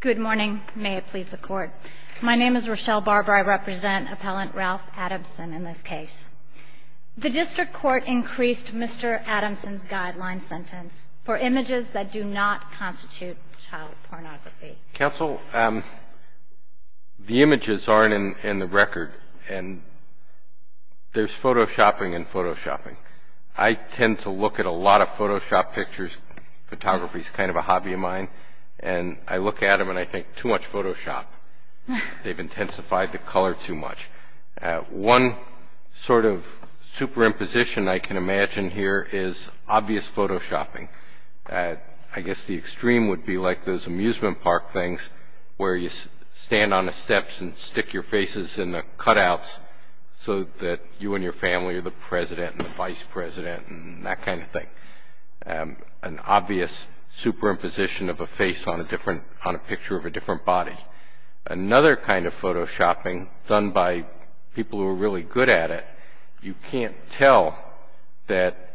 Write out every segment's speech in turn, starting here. Good morning. May it please the Court. My name is Rochelle Barber. I represent Appellant Ralph Adamson in this case. The District Court increased Mr. Adamson's guideline sentence for images that do not constitute child pornography. Counsel, the images aren't in the record and there's photoshopping and photoshopping. I tend to look at a lot of photoshopped pictures. Photography is kind of a hobby of mine and I look at them and I think, too much photoshop. They've intensified the color too much. One sort of superimposition I can imagine here is obvious photoshopping. I guess the extreme would be like those amusement park things where you stand on the steps and stick your faces in the cutouts so that you and your family are the president and the vice president and that kind of thing. An obvious superimposition of a face on a picture of a different body. Another kind of photoshopping done by people who are really good at it, you can't tell that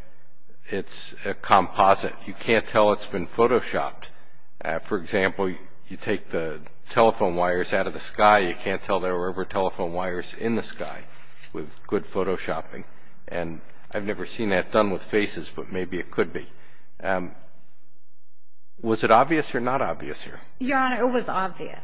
it's a composite. You can't tell it's been photoshopped. For example, you take the telephone wires out of the sky, you can't tell there were ever telephone wires in the sky with good photoshopping. And I've never seen that done with faces, but maybe it could be. Was it obvious or not obvious here? Your Honor, it was obvious.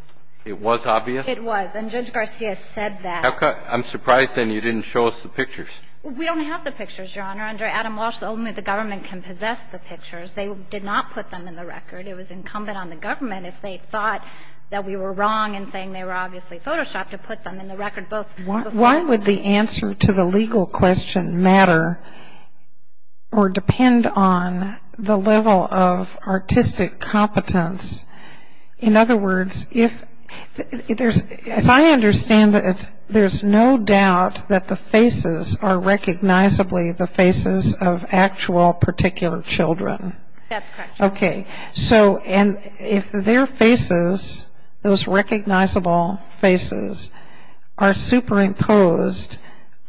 It was obvious? It was. And Judge Garcia said that. I'm surprised then you didn't show us the pictures. We don't have the pictures, Your Honor. Under Adam Walsh, only the government can possess the pictures. They did not put them in the record. It was incumbent on the government, if they thought that we were wrong in saying they were obviously photoshopped, to put them in the record. Why would the answer to the legal question matter or depend on the level of artistic competence? In other words, as I understand it, there's no doubt that the faces are recognizably the faces of actual particular children. Okay. So if their faces, those recognizable faces, are superimposed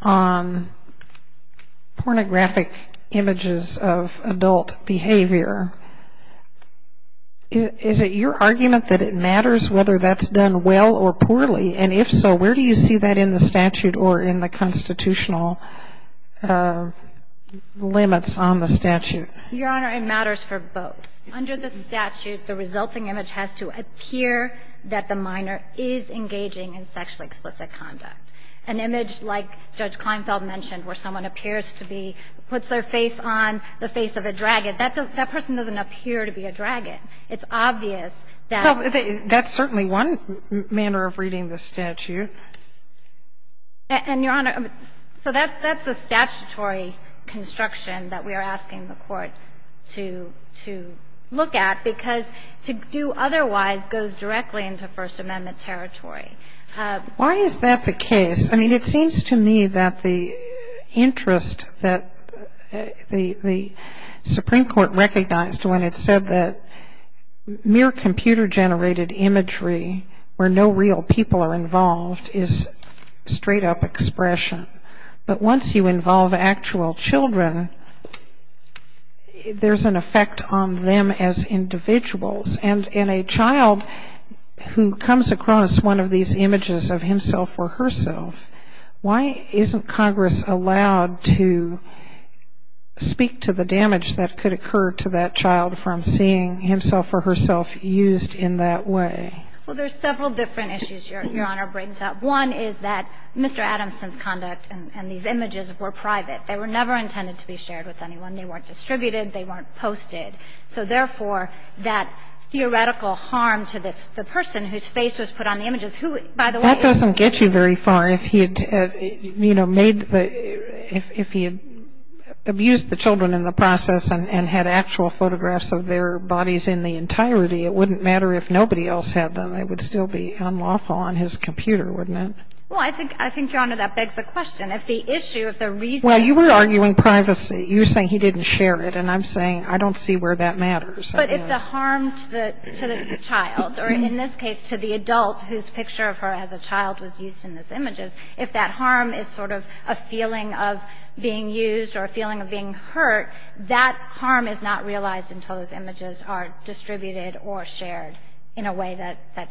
on pornographic images of adult behavior, is it your argument that it matters whether that's done well or poorly? And if so, where do you see that in the statute or in the constitutional limits on the statute? Your Honor, it matters for both. Under the statute, the resulting image has to appear that the minor is engaging in sexually explicit conduct. An image like Judge Kleinfeld mentioned where someone appears to be, puts their face on the face of a dragon, that person doesn't appear to be a dragon. It's obvious that they're not. That's certainly one manner of reading the statute. And, Your Honor, so that's the statutory construction that we are asking the Court to look at, because to do otherwise goes directly into First Amendment territory. Why is that the case? I mean, it seems to me that the interest that the Supreme Court recognized when it said that mere computer-generated imagery where no real people are involved is straight-up expression. But once you involve actual children, there's an effect on them as individuals. And in a child who comes across one of these images of himself or herself, why isn't Congress allowed to speak to the damage that could occur to that child from seeing himself or herself used in that way? Well, there's several different issues Your Honor brings up. One is that Mr. Adamson's conduct and these images were private. They were never intended to be shared with anyone. They weren't distributed. They weren't posted. So, therefore, that theoretical harm to this, the person whose face was put on the images, who, by the way was used. That doesn't get you very far. If he had, you know, made the, if he had abused the children in the process and had actual photographs of their bodies in the entirety, it wouldn't matter if nobody else had them. It would still be unlawful on his computer, wouldn't it? Well, I think, Your Honor, that begs the question. If the issue, if the reason. Well, you were arguing privacy. You were saying he didn't share it. And I'm saying I don't see where that matters. But if the harm to the child, or in this case to the adult whose picture of her as a child was used in these images, if that harm is sort of a feeling of being used or a feeling of being hurt, that harm is not realized until those images are distributed or shared in a way that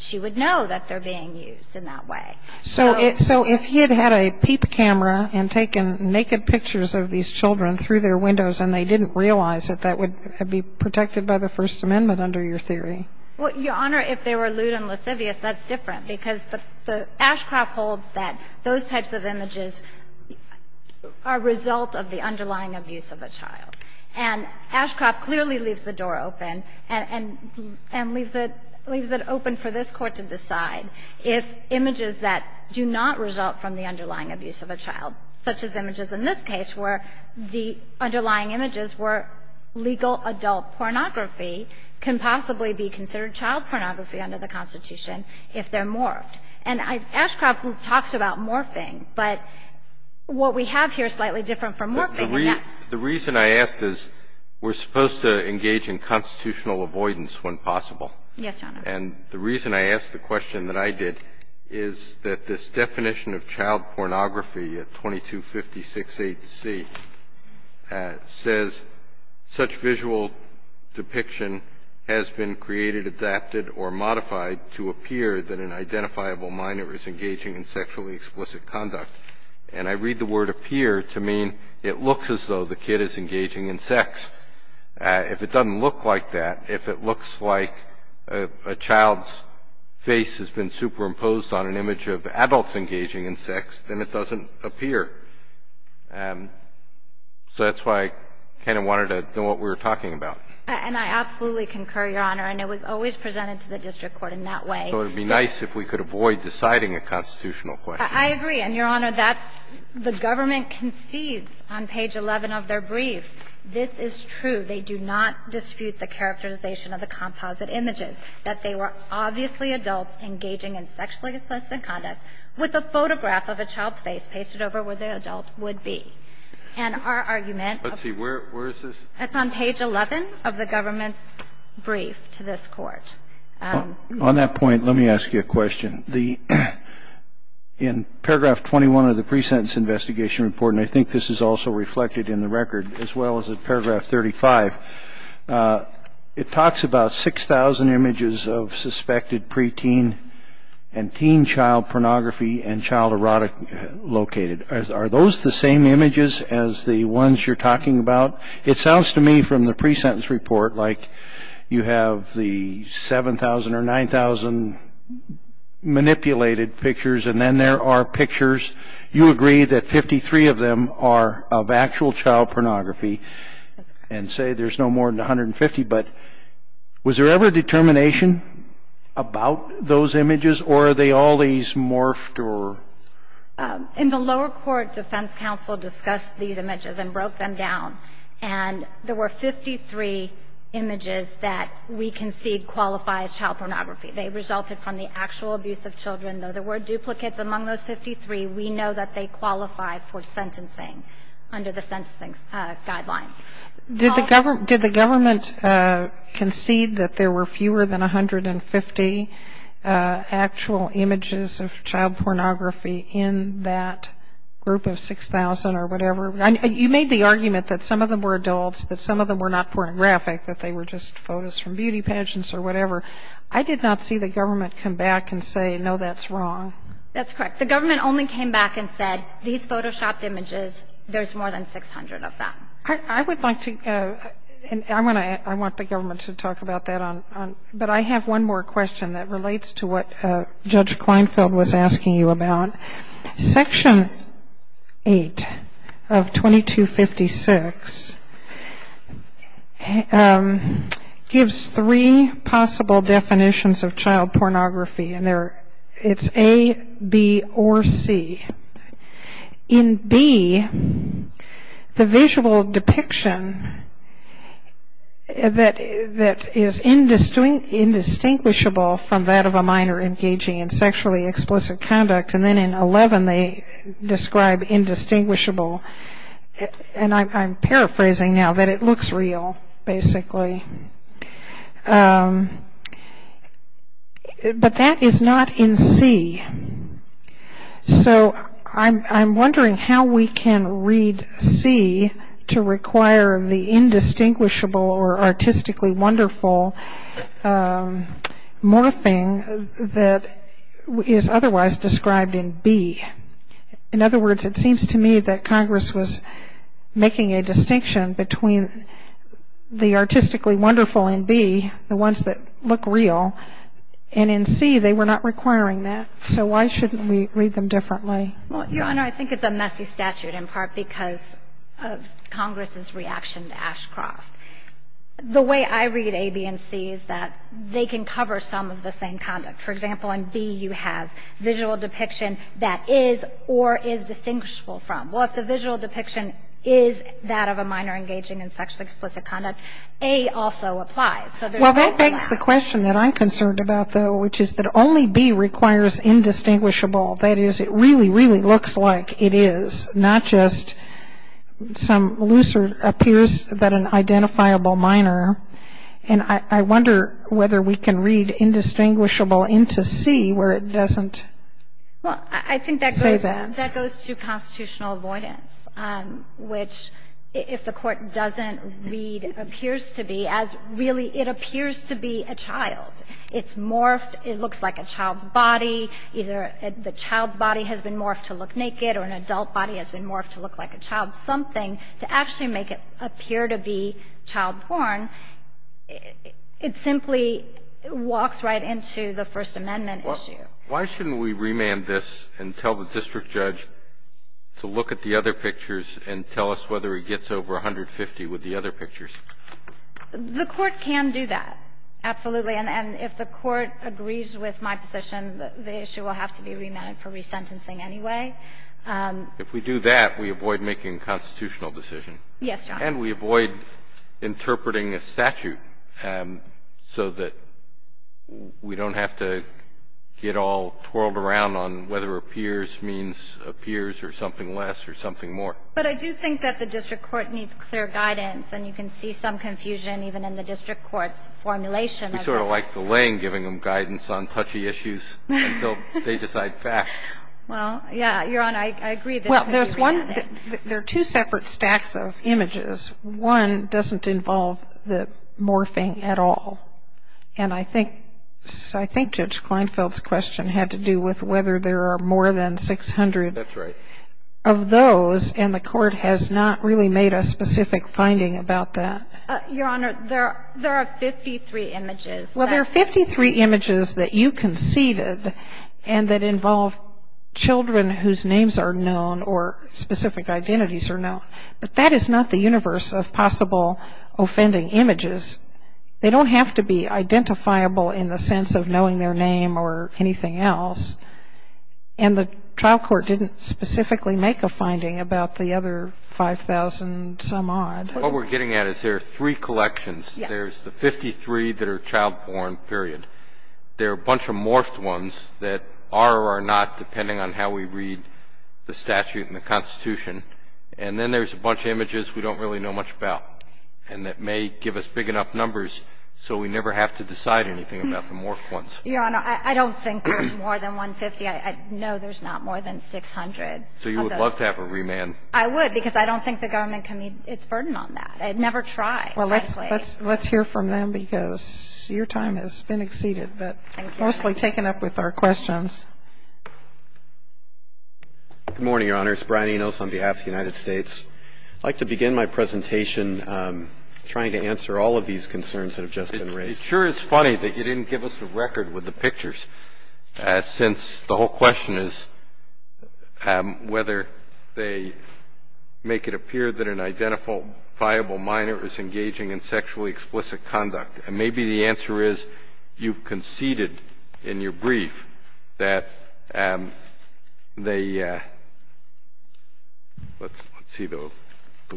she would know that they're being used in that way. So if he had had a peep camera and taken naked pictures of these children through their windows and they didn't realize it, that would be protected by the First Amendment under your theory. Well, Your Honor, if they were lewd and lascivious, that's different, because the Ashcroft holds that those types of images are a result of the underlying abuse of a child. And Ashcroft clearly leaves the door open and leaves it open for this Court to decide if images that do not result from the underlying abuse of a child, such as images in this case where the underlying images were legal adult pornography, can possibly be considered child pornography under the Constitution if they're morphed. And Ashcroft talks about morphing, but what we have here is slightly different from morphing. The reason I ask is we're supposed to engage in constitutional avoidance when possible. Yes, Your Honor. And the reason I ask the question that I did is that this definition of child pornography under the 2256A-C says, such visual depiction has been created, adapted, or modified to appear that an identifiable minor is engaging in sexually explicit conduct. And I read the word appear to mean it looks as though the kid is engaging in sex. If it doesn't look like that, if it looks like a child's face has been superimposed on an image of adults engaging in sex, then it doesn't appear. So that's why I kind of wanted to know what we were talking about. And I absolutely concur, Your Honor. And it was always presented to the district court in that way. So it would be nice if we could avoid deciding a constitutional question. I agree. And, Your Honor, that's the government concedes on page 11 of their brief. This is true. They do not dispute the characterization of the composite images, that they were obviously adults engaging in sexually explicit conduct with a photograph of a child's face pasted over where the adult would be. And our argument of the government's brief to this Court. On that point, let me ask you a question. In paragraph 21 of the pre-sentence investigation report, and I think this is also reflected in the record, as well as at paragraph 35, it talks about 6,000 images of suspected preteen and teen child pornography and child erotic located. Are those the same images as the ones you're talking about? It sounds to me from the pre-sentence report like you have the 7,000 or 9,000 manipulated pictures, and then there are pictures. You agree that 53 of them are of actual child pornography and say there's no more than 150. But was there ever determination about those images or are they always morphed or? In the lower court, defense counsel discussed these images and broke them down. And there were 53 images that we concede qualify as child pornography. They resulted from the actual abuse of children. Though there were duplicates among those 53, we know that they qualify for sentencing under the sentencing guidelines. Did the government concede that there were fewer than 150 actual images of child pornography in that group of 6,000 or whatever? You made the argument that some of them were adults, that some of them were not pornographic, that they were just photos from beauty pageants or whatever. I did not see the government come back and say, no, that's wrong. That's correct. The government only came back and said, these Photoshopped images, there's more than 600 of them. I would like to go, and I want the government to talk about that. But I have one more question that relates to what Judge Kleinfeld was asking you about. Section 8 of 2256 gives three possible definitions of child pornography, and it's A, B, or C. In B, the visual depiction that is indistinguishable from that of a minor engaging in sexually explicit conduct. And then in 11, they describe indistinguishable. And I'm paraphrasing now that it looks real, basically. But that is not in C. So I'm wondering how we can read C to require the indistinguishable or artistically wonderful morphing that is otherwise described in B. In other words, it seems to me that Congress was making a distinction between the artistically wonderful in B, the ones that look real, and in C, they were not requiring that. So why shouldn't we read them differently? Well, Your Honor, I think it's a messy statute in part because of Congress's reaction to Ashcroft. The way I read A, B, and C is that they can cover some of the same conduct. For example, in B, you have visual depiction that is or is distinguishable from. Well, if the visual depiction is that of a minor engaging in sexually explicit conduct, A also applies. Well, that begs the question that I'm concerned about, though, which is that only B requires indistinguishable. That is, it really, really looks like it is, not just some looser, appears that an identifiable minor. And I wonder whether we can read indistinguishable into C where it doesn't say that. That goes to constitutional avoidance, which, if the Court doesn't read, appears to be as really it appears to be a child. It's morphed. It looks like a child's body. Either the child's body has been morphed to look naked or an adult body has been morphed to look like a child's something. To actually make it appear to be child porn, it simply walks right into the First Amendment issue. Why shouldn't we remand this and tell the district judge to look at the other pictures and tell us whether it gets over 150 with the other pictures? The Court can do that, absolutely. And if the Court agrees with my position, the issue will have to be remanded for resentencing anyway. If we do that, we avoid making a constitutional decision. Yes, Your Honor. And we avoid interpreting a statute so that we don't have to get all twirled around on whether appears means appears or something less or something more. But I do think that the district court needs clear guidance, and you can see some confusion even in the district court's formulation of that. We sort of like the Lane giving them guidance on touchy issues until they decide fast. Well, yeah. Your Honor, I agree this could be remanded. There are two separate stacks of images. One doesn't involve the morphing at all. And I think Judge Kleinfeld's question had to do with whether there are more than 600 of those, and the Court has not really made a specific finding about that. Your Honor, there are 53 images. Well, there are 53 images that you conceded and that involve children whose names are known or specific identities are known. But that is not the universe of possible offending images. They don't have to be identifiable in the sense of knowing their name or anything else. And the trial court didn't specifically make a finding about the other 5,000-some-odd. What we're getting at is there are three collections. Yes. There's the 53 that are child-born, period. There are a bunch of morphed ones that are or are not, depending on how we read the statute and the Constitution. And then there's a bunch of images we don't really know much about and that may give us big enough numbers so we never have to decide anything about the morphed ones. Your Honor, I don't think there's more than 150. I know there's not more than 600. So you would love to have a remand? I would, because I don't think the government can meet its burden on that. I'd never try, frankly. Well, let's hear from them because your time has been exceeded, but mostly taken up with our questions. Good morning, Your Honor. It's Brian Enos on behalf of the United States. I'd like to begin my presentation trying to answer all of these concerns that have just been raised. It sure is funny that you didn't give us the record with the pictures, since the whole question is whether they make it appear that an identical viable minor is engaging in sexually explicit conduct. And maybe the answer is you've conceded in your brief that they – let's see the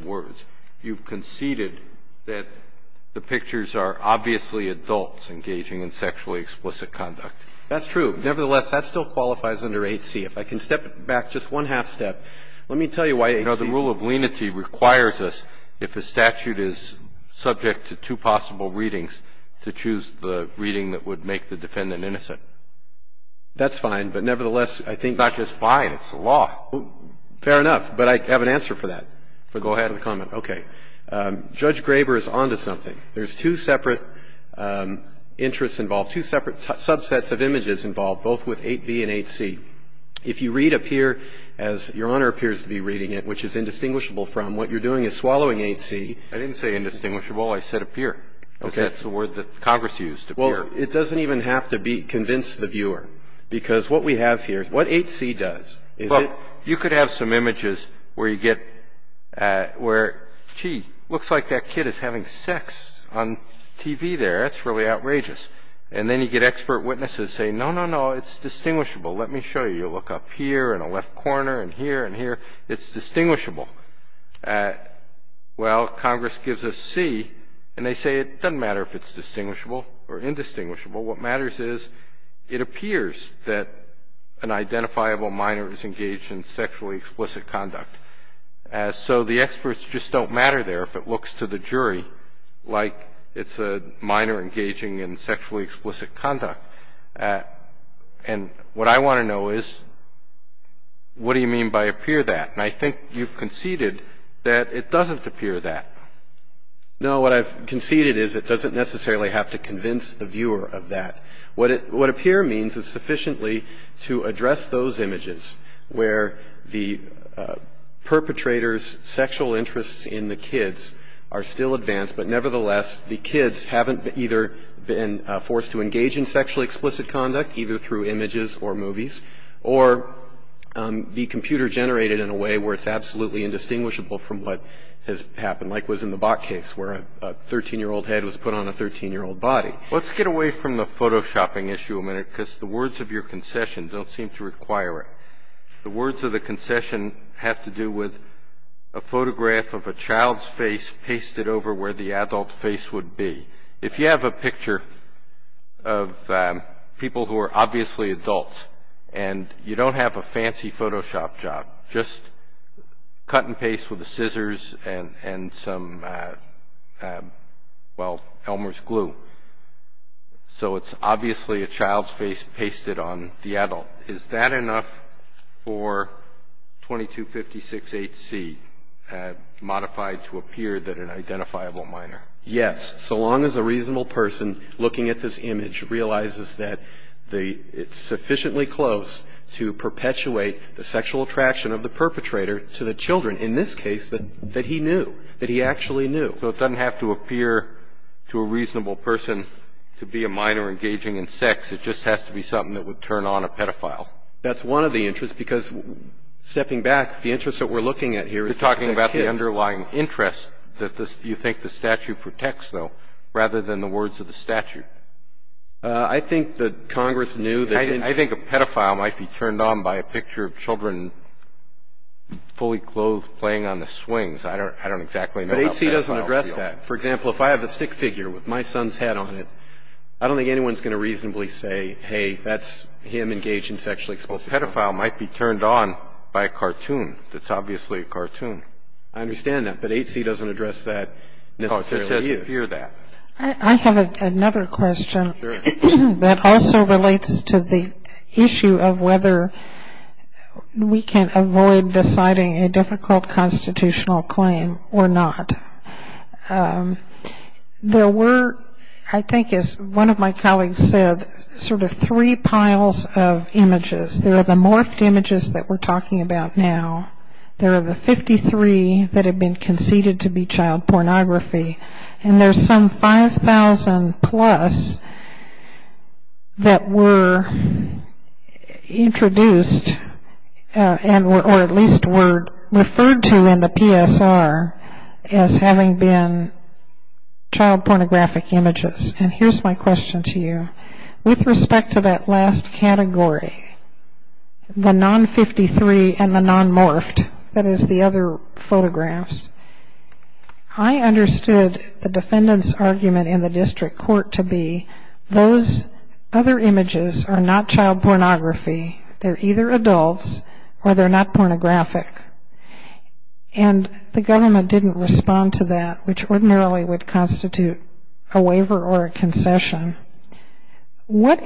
words. You've conceded that the pictures are obviously adults engaging in sexually explicit conduct. That's true. Nevertheless, that still qualifies under 8C. If I can step back just one half-step, let me tell you why 8C. You know, the rule of lenity requires us, if a statute is subject to two possible readings, to choose the reading that would make the defendant innocent. That's fine, but nevertheless, I think. It's not just fine. It's the law. Fair enough, but I have an answer for that. Go ahead with the comment. Okay. Judge Graber is on to something. There's two separate interests involved, two separate subsets of images involved, both with 8B and 8C. If you read up here, as Your Honor appears to be reading it, which is indistinguishable from what you're doing is swallowing 8C. I didn't say indistinguishable. I said appear. Okay. Because that's the word that Congress used, appear. Well, it doesn't even have to convince the viewer, because what we have here, what 8C does is it. Well, you could have some images where you get where, gee, looks like that kid is having sex on TV there. That's really outrageous. And then you get expert witnesses saying, no, no, no, it's distinguishable. Let me show you. You look up here in the left corner and here and here. It's distinguishable. Well, Congress gives us C, and they say it doesn't matter if it's distinguishable or indistinguishable. What matters is it appears that an identifiable minor is engaged in sexually explicit conduct. So the experts just don't matter there if it looks to the jury like it's a minor engaging in sexually explicit conduct. And what I want to know is what do you mean by appear that? And I think you've conceded that it doesn't appear that. No. What I've conceded is it doesn't necessarily have to convince the viewer of that. What appear means is sufficiently to address those images where the perpetrator's sexual interests in the kids are still advanced, but nevertheless the kids haven't either been forced to engage in sexually explicit conduct either through images or movies or be computer generated in a way where it's absolutely indistinguishable from what has happened, like was in the Bok case where a 13-year-old head was put on a 13-year-old body. Let's get away from the photoshopping issue a minute because the words of your concession don't seem to require it. The words of the concession have to do with a photograph of a child's face pasted over where the adult's face would be. If you have a picture of people who are obviously adults and you don't have a fancy photoshop job, just cut and paste with the scissors and some, well, Elmer's glue, so it's obviously a child's face pasted on the adult. Is that enough for 2256HC modified to appear that an identifiable minor? Yes. So long as a reasonable person looking at this image realizes that it's sufficiently close to perpetuate the sexual attraction of the perpetrator to the children, in this case, that he knew, that he actually knew. So it doesn't have to appear to a reasonable person to be a minor engaging in sex. It just has to be something that would turn on a pedophile. That's one of the interests, because stepping back, the interest that we're looking at here is the kids. You're talking about the underlying interest that you think the statute protects, though, rather than the words of the statute. I think that Congress knew that in ---- I think a pedophile might be turned on by a picture of children fully clothed playing on the swings. I don't exactly know how that would feel. But HC doesn't address that. For example, if I have a stick figure with my son's hat on it, I don't think anyone's going to reasonably say, hey, that's him engaged in sexually explicit ---- Well, a pedophile might be turned on by a cartoon that's obviously a cartoon. I understand that. But HC doesn't address that necessarily either. No, it just says appear that. I have another question that also relates to the issue of whether we can avoid deciding a difficult constitutional claim or not. There were, I think as one of my colleagues said, sort of three piles of images. There are the morphed images that we're talking about now. There are the 53 that have been conceded to be child pornography. And there's some 5,000 plus that were introduced or at least were referred to in the PSR as having been child pornographic images. And here's my question to you. With respect to that last category, the non-53 and the non-morphed, that is the other photographs, I understood the defendant's argument in the district court to be those other images are not child pornography. They're either adults or they're not pornographic. And the government didn't respond to that, which ordinarily would constitute a waiver or a concession. What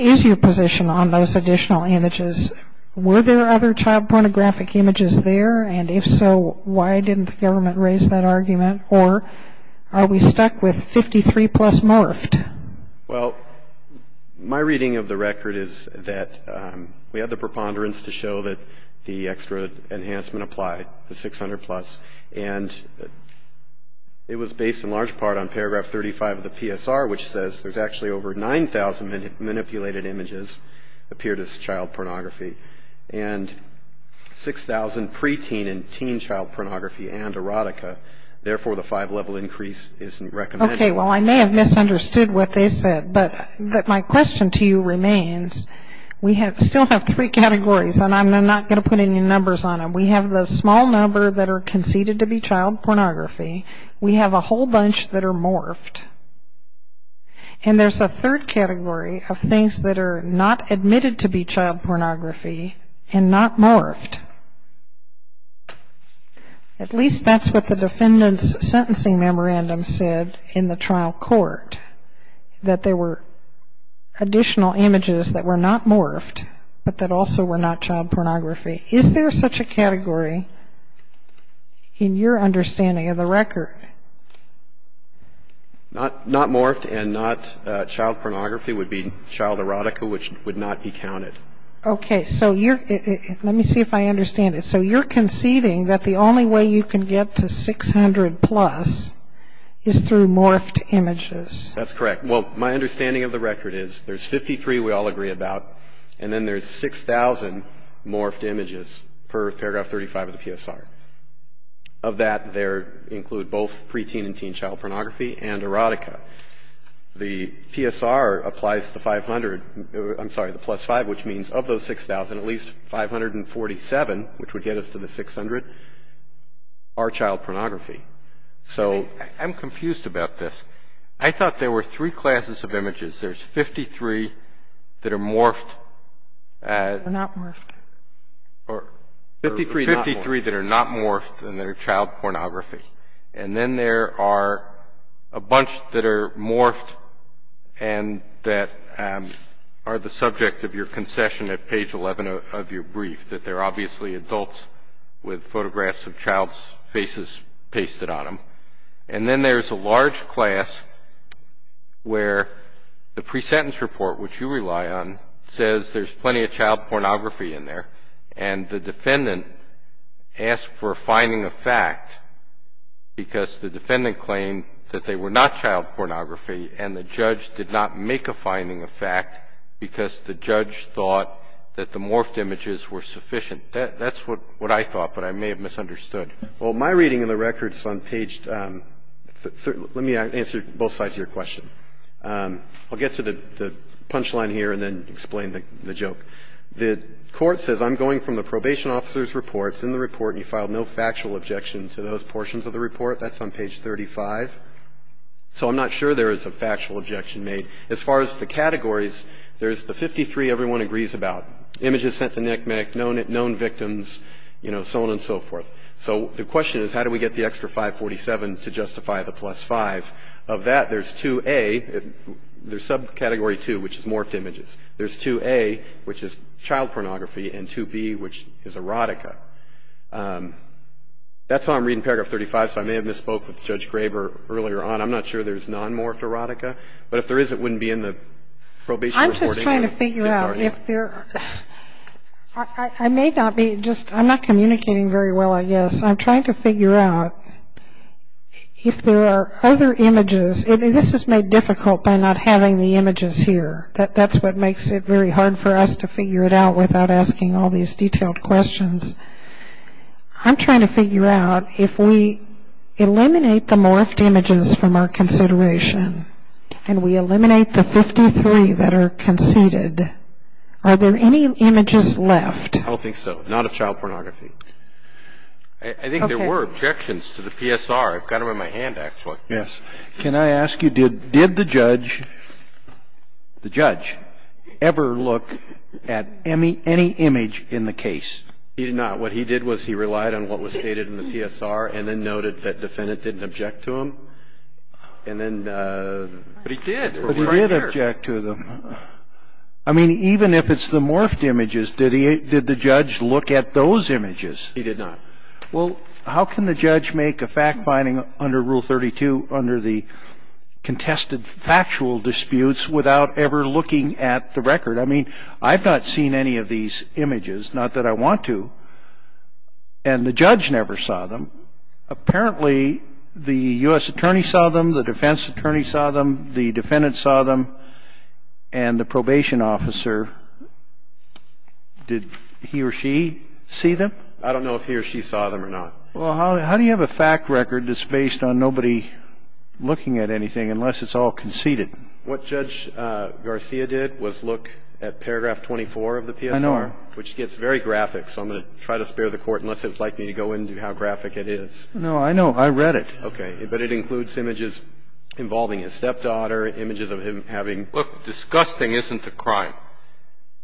is your position on those additional images? Were there other child pornographic images there? And if so, why didn't the government raise that argument? Or are we stuck with 53 plus morphed? Well, my reading of the record is that we had the preponderance to show that the extra enhancement applied, the 600 plus. And it was based in large part on paragraph 35 of the PSR, which says there's actually over 9,000 manipulated images appeared as child pornography and 6,000 preteen and teen child pornography and erotica. Therefore, the five-level increase isn't recommended. Okay, well, I may have misunderstood what they said, but my question to you remains. We still have three categories, and I'm not going to put any numbers on them. We have the small number that are conceded to be child pornography. We have a whole bunch that are morphed. And there's a third category of things that are not admitted to be child pornography and not morphed. At least that's what the defendant's sentencing memorandum said in the trial court, that there were additional images that were not morphed but that also were not child pornography. Is there such a category in your understanding of the record? Not morphed and not child pornography would be child erotica, which would not be counted. Okay, so let me see if I understand it. So you're conceding that the only way you can get to 600 plus is through morphed images. That's correct. Well, my understanding of the record is there's 53 we all agree about, and then there's 6,000 morphed images per paragraph 35 of the PSR. Of that, there include both preteen and teen child pornography and erotica. The PSR applies to 500 or, I'm sorry, the plus 5, which means of those 6,000, at least 547, which would get us to the 600, are child pornography. So I'm confused about this. I thought there were three classes of images. There's 53 that are morphed. They're not morphed. Or 53 that are not morphed and that are child pornography. And then there are a bunch that are morphed and that are the subject of your concession at page 11 of your brief, that they're obviously adults with photographs of child's faces pasted on them. And then there's a large class where the pre-sentence report, which you rely on, says there's plenty of child pornography in there, and the defendant asked for a finding of fact because the defendant claimed that they were not child pornography, and the judge did not make a finding of fact because the judge thought that the morphed images were sufficient. That's what I thought, but I may have misunderstood. Well, my reading in the record is on page 13. Let me answer both sides of your question. I'll get to the punchline here and then explain the joke. The Court says I'm going from the probation officer's report. It's in the report, and you filed no factual objection to those portions of the report. That's on page 35. So I'm not sure there is a factual objection made. As far as the categories, there's the 53 everyone agrees about, images sent to NCMEC, known victims, you know, so on and so forth. So the question is how do we get the extra 547 to justify the plus 5? Of that, there's 2A. There's subcategory 2, which is morphed images. There's 2A, which is child pornography, and 2B, which is erotica. That's how I'm reading paragraph 35, so I may have misspoke with Judge Graber earlier on. I'm not sure there's non-morphed erotica. But if there is, it wouldn't be in the probation reporting. I'm just trying to figure out if there are. I may not be just — I'm not communicating very well, I guess. I'm trying to figure out if there are other images. This is made difficult by not having the images here. That's what makes it very hard for us to figure it out without asking all these detailed questions. I'm trying to figure out if we eliminate the morphed images from our consideration and we eliminate the 53 that are conceded, are there any images left? I don't think so. Not of child pornography. I think there were objections to the PSR. I've got them in my hand, actually. Yes. Can I ask you, did the judge ever look at any image in the case? He did not. What he did was he relied on what was stated in the PSR and then noted that the defendant didn't object to them. But he did. But he did object to them. I mean, even if it's the morphed images, did the judge look at those images? He did not. Well, how can the judge make a fact-finding under Rule 32 under the contested factual disputes without ever looking at the record? I mean, I've not seen any of these images, not that I want to, and the judge never saw them. Apparently, the U.S. attorney saw them, the defense attorney saw them, the defendant saw them, and the probation officer. Did he or she see them? I don't know if he or she saw them or not. Well, how do you have a fact record that's based on nobody looking at anything unless it's all conceded? What Judge Garcia did was look at paragraph 24 of the PSR. I know. Which gets very graphic, so I'm going to try to spare the Court unless it would like me to go into how graphic it is. No, I know. I read it. Okay. But it includes images involving his stepdaughter, images of him having ---- Look, disgusting isn't a crime.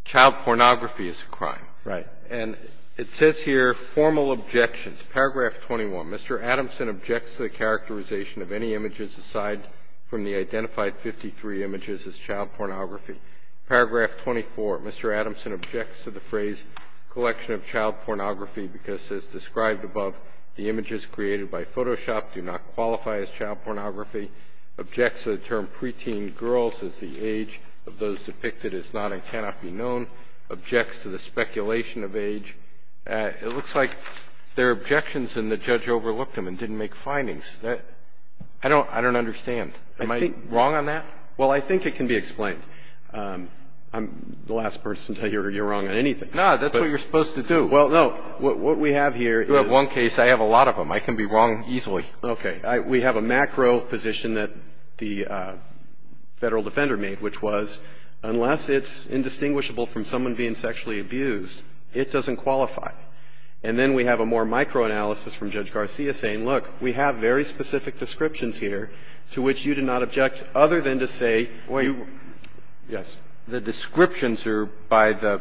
Child pornography is a crime. Right. And it says here, formal objections. It's paragraph 21. Mr. Adamson objects to the characterization of any images aside from the identified 53 images as child pornography. Paragraph 24, Mr. Adamson objects to the phrase collection of child pornography because as described above, the images created by Photoshop do not qualify as child pornography, objects to the term preteen girls as the age of those depicted as not and cannot be known, objects to the speculation of age. It looks like there are objections and the judge overlooked them and didn't make findings. I don't understand. Am I wrong on that? Well, I think it can be explained. I'm the last person to hear you're wrong on anything. No, that's what you're supposed to do. Well, no. What we have here is ---- You have one case. I have a lot of them. I can be wrong easily. Okay. We have a macro position that the Federal Defender made, which was unless it's indistinguishable from someone being sexually abused, it doesn't qualify. And then we have a more micro analysis from Judge Garcia saying, look, we have very specific descriptions here to which you do not object other than to say you ---- Wait. Yes. The descriptions are by the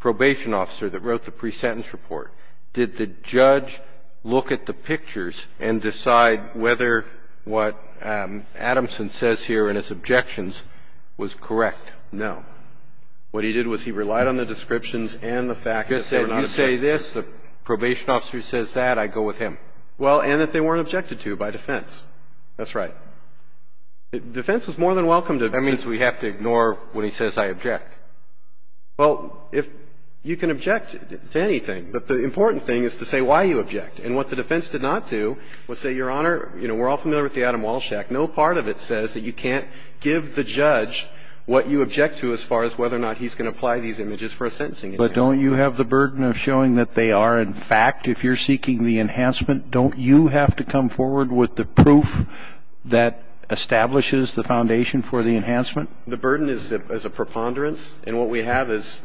probation officer that wrote the pre-sentence report. Did the judge look at the pictures and decide whether what Adamson says here in his objections was correct? No. What he did was he relied on the descriptions and the fact that they were not objected to. You say this, the probation officer says that, I go with him. Well, and that they weren't objected to by defense. That's right. Defense is more than welcome to ---- That means we have to ignore when he says I object. Well, if you can object to anything, but the important thing is to say why you object. And what the defense did not do was say, Your Honor, you know, we're all familiar with the Adam Walsh Act. No part of it says that you can't give the judge what you object to as far as whether or not he's going to apply these images for a sentencing. But don't you have the burden of showing that they are, in fact, if you're seeking the enhancement, don't you have to come forward with the proof that establishes the foundation for the enhancement? The burden is a preponderance. And what we have is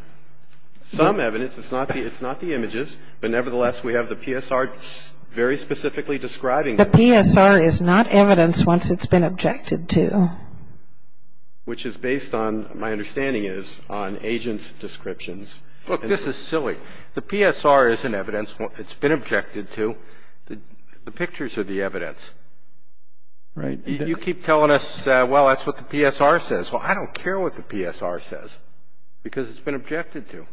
some evidence. It's not the images. But nevertheless, we have the PSR very specifically describing it. The PSR is not evidence once it's been objected to. Which is based on, my understanding is, on agent's descriptions. Look, this is silly. The PSR is an evidence. It's been objected to. The pictures are the evidence. Right. You keep telling us, well, that's what the PSR says. Well, I don't care what the PSR says because it's been objected to.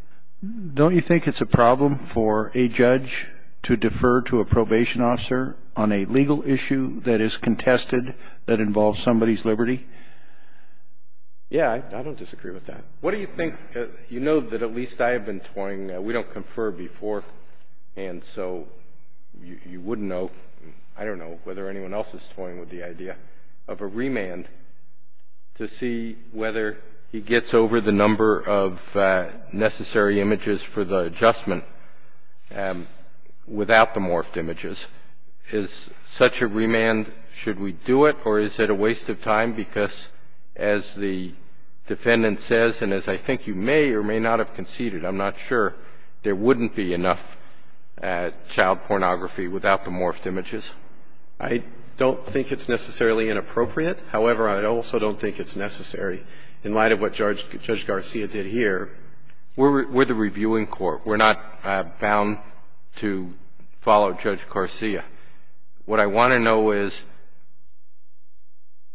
Don't you think it's a problem for a judge to defer to a probation officer on a legal issue that is contested, that involves somebody's liberty? Yeah, I don't disagree with that. What do you think? You know that at least I have been toying, we don't confer before, and so you wouldn't know, I don't know whether anyone else is toying with the idea, of a remand to see whether he gets over the number of necessary images for the adjustment without the morphed images. Is such a remand, should we do it, or is it a waste of time? Because as the defendant says, and as I think you may or may not have conceded, I'm not sure there wouldn't be enough child pornography without the morphed images. I don't think it's necessarily inappropriate. However, I also don't think it's necessary. In light of what Judge Garcia did here, we're the reviewing court. We're not bound to follow Judge Garcia. What I want to know is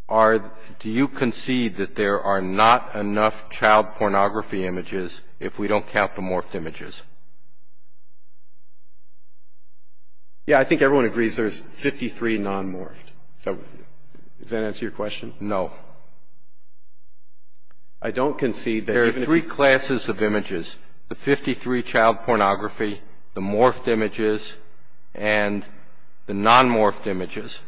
are, do you concede that there are not enough child pornography images if we don't count the morphed images? Yeah, I think everyone agrees there's 53 non-morphed. Does that answer your question? No. I don't concede that even if you. The 53 child pornography, the morphed images, and the non-morphed images,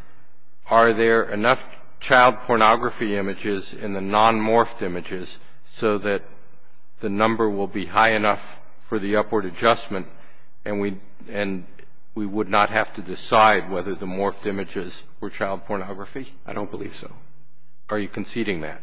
are there enough child pornography images in the non-morphed images so that the number will be high enough for the upward adjustment and we would not have to decide whether the morphed images were child pornography? I don't believe so. Are you conceding that?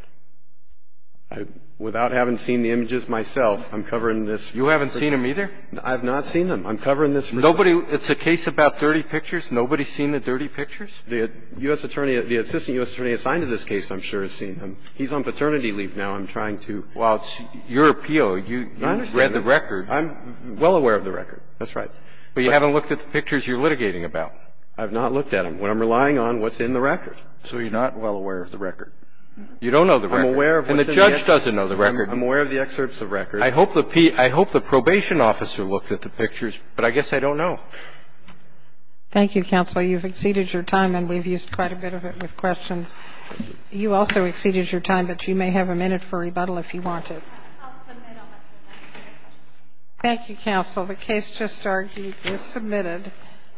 Without having seen the images myself, I'm covering this. You haven't seen them either? I've not seen them. I'm covering this. Nobody – it's a case about dirty pictures? Nobody's seen the dirty pictures? The U.S. attorney – the assistant U.S. attorney assigned to this case, I'm sure, has seen them. He's on paternity leave now. I'm trying to – Well, it's your appeal. You read the record. I'm well aware of the record. That's right. But you haven't looked at the pictures you're litigating about. I've not looked at them. What I'm relying on, what's in the record. So you're not well aware of the record. You don't know the record. I'm aware of what's in the – And the judge doesn't know the record. I'm aware of the excerpts of records. I hope the probation officer looked at the pictures, but I guess I don't know. Thank you, counsel. You've exceeded your time, and we've used quite a bit of it with questions. You also exceeded your time, but you may have a minute for rebuttal if you want to. I'll submit all my questions. Thank you, counsel. The case just argued is submitted.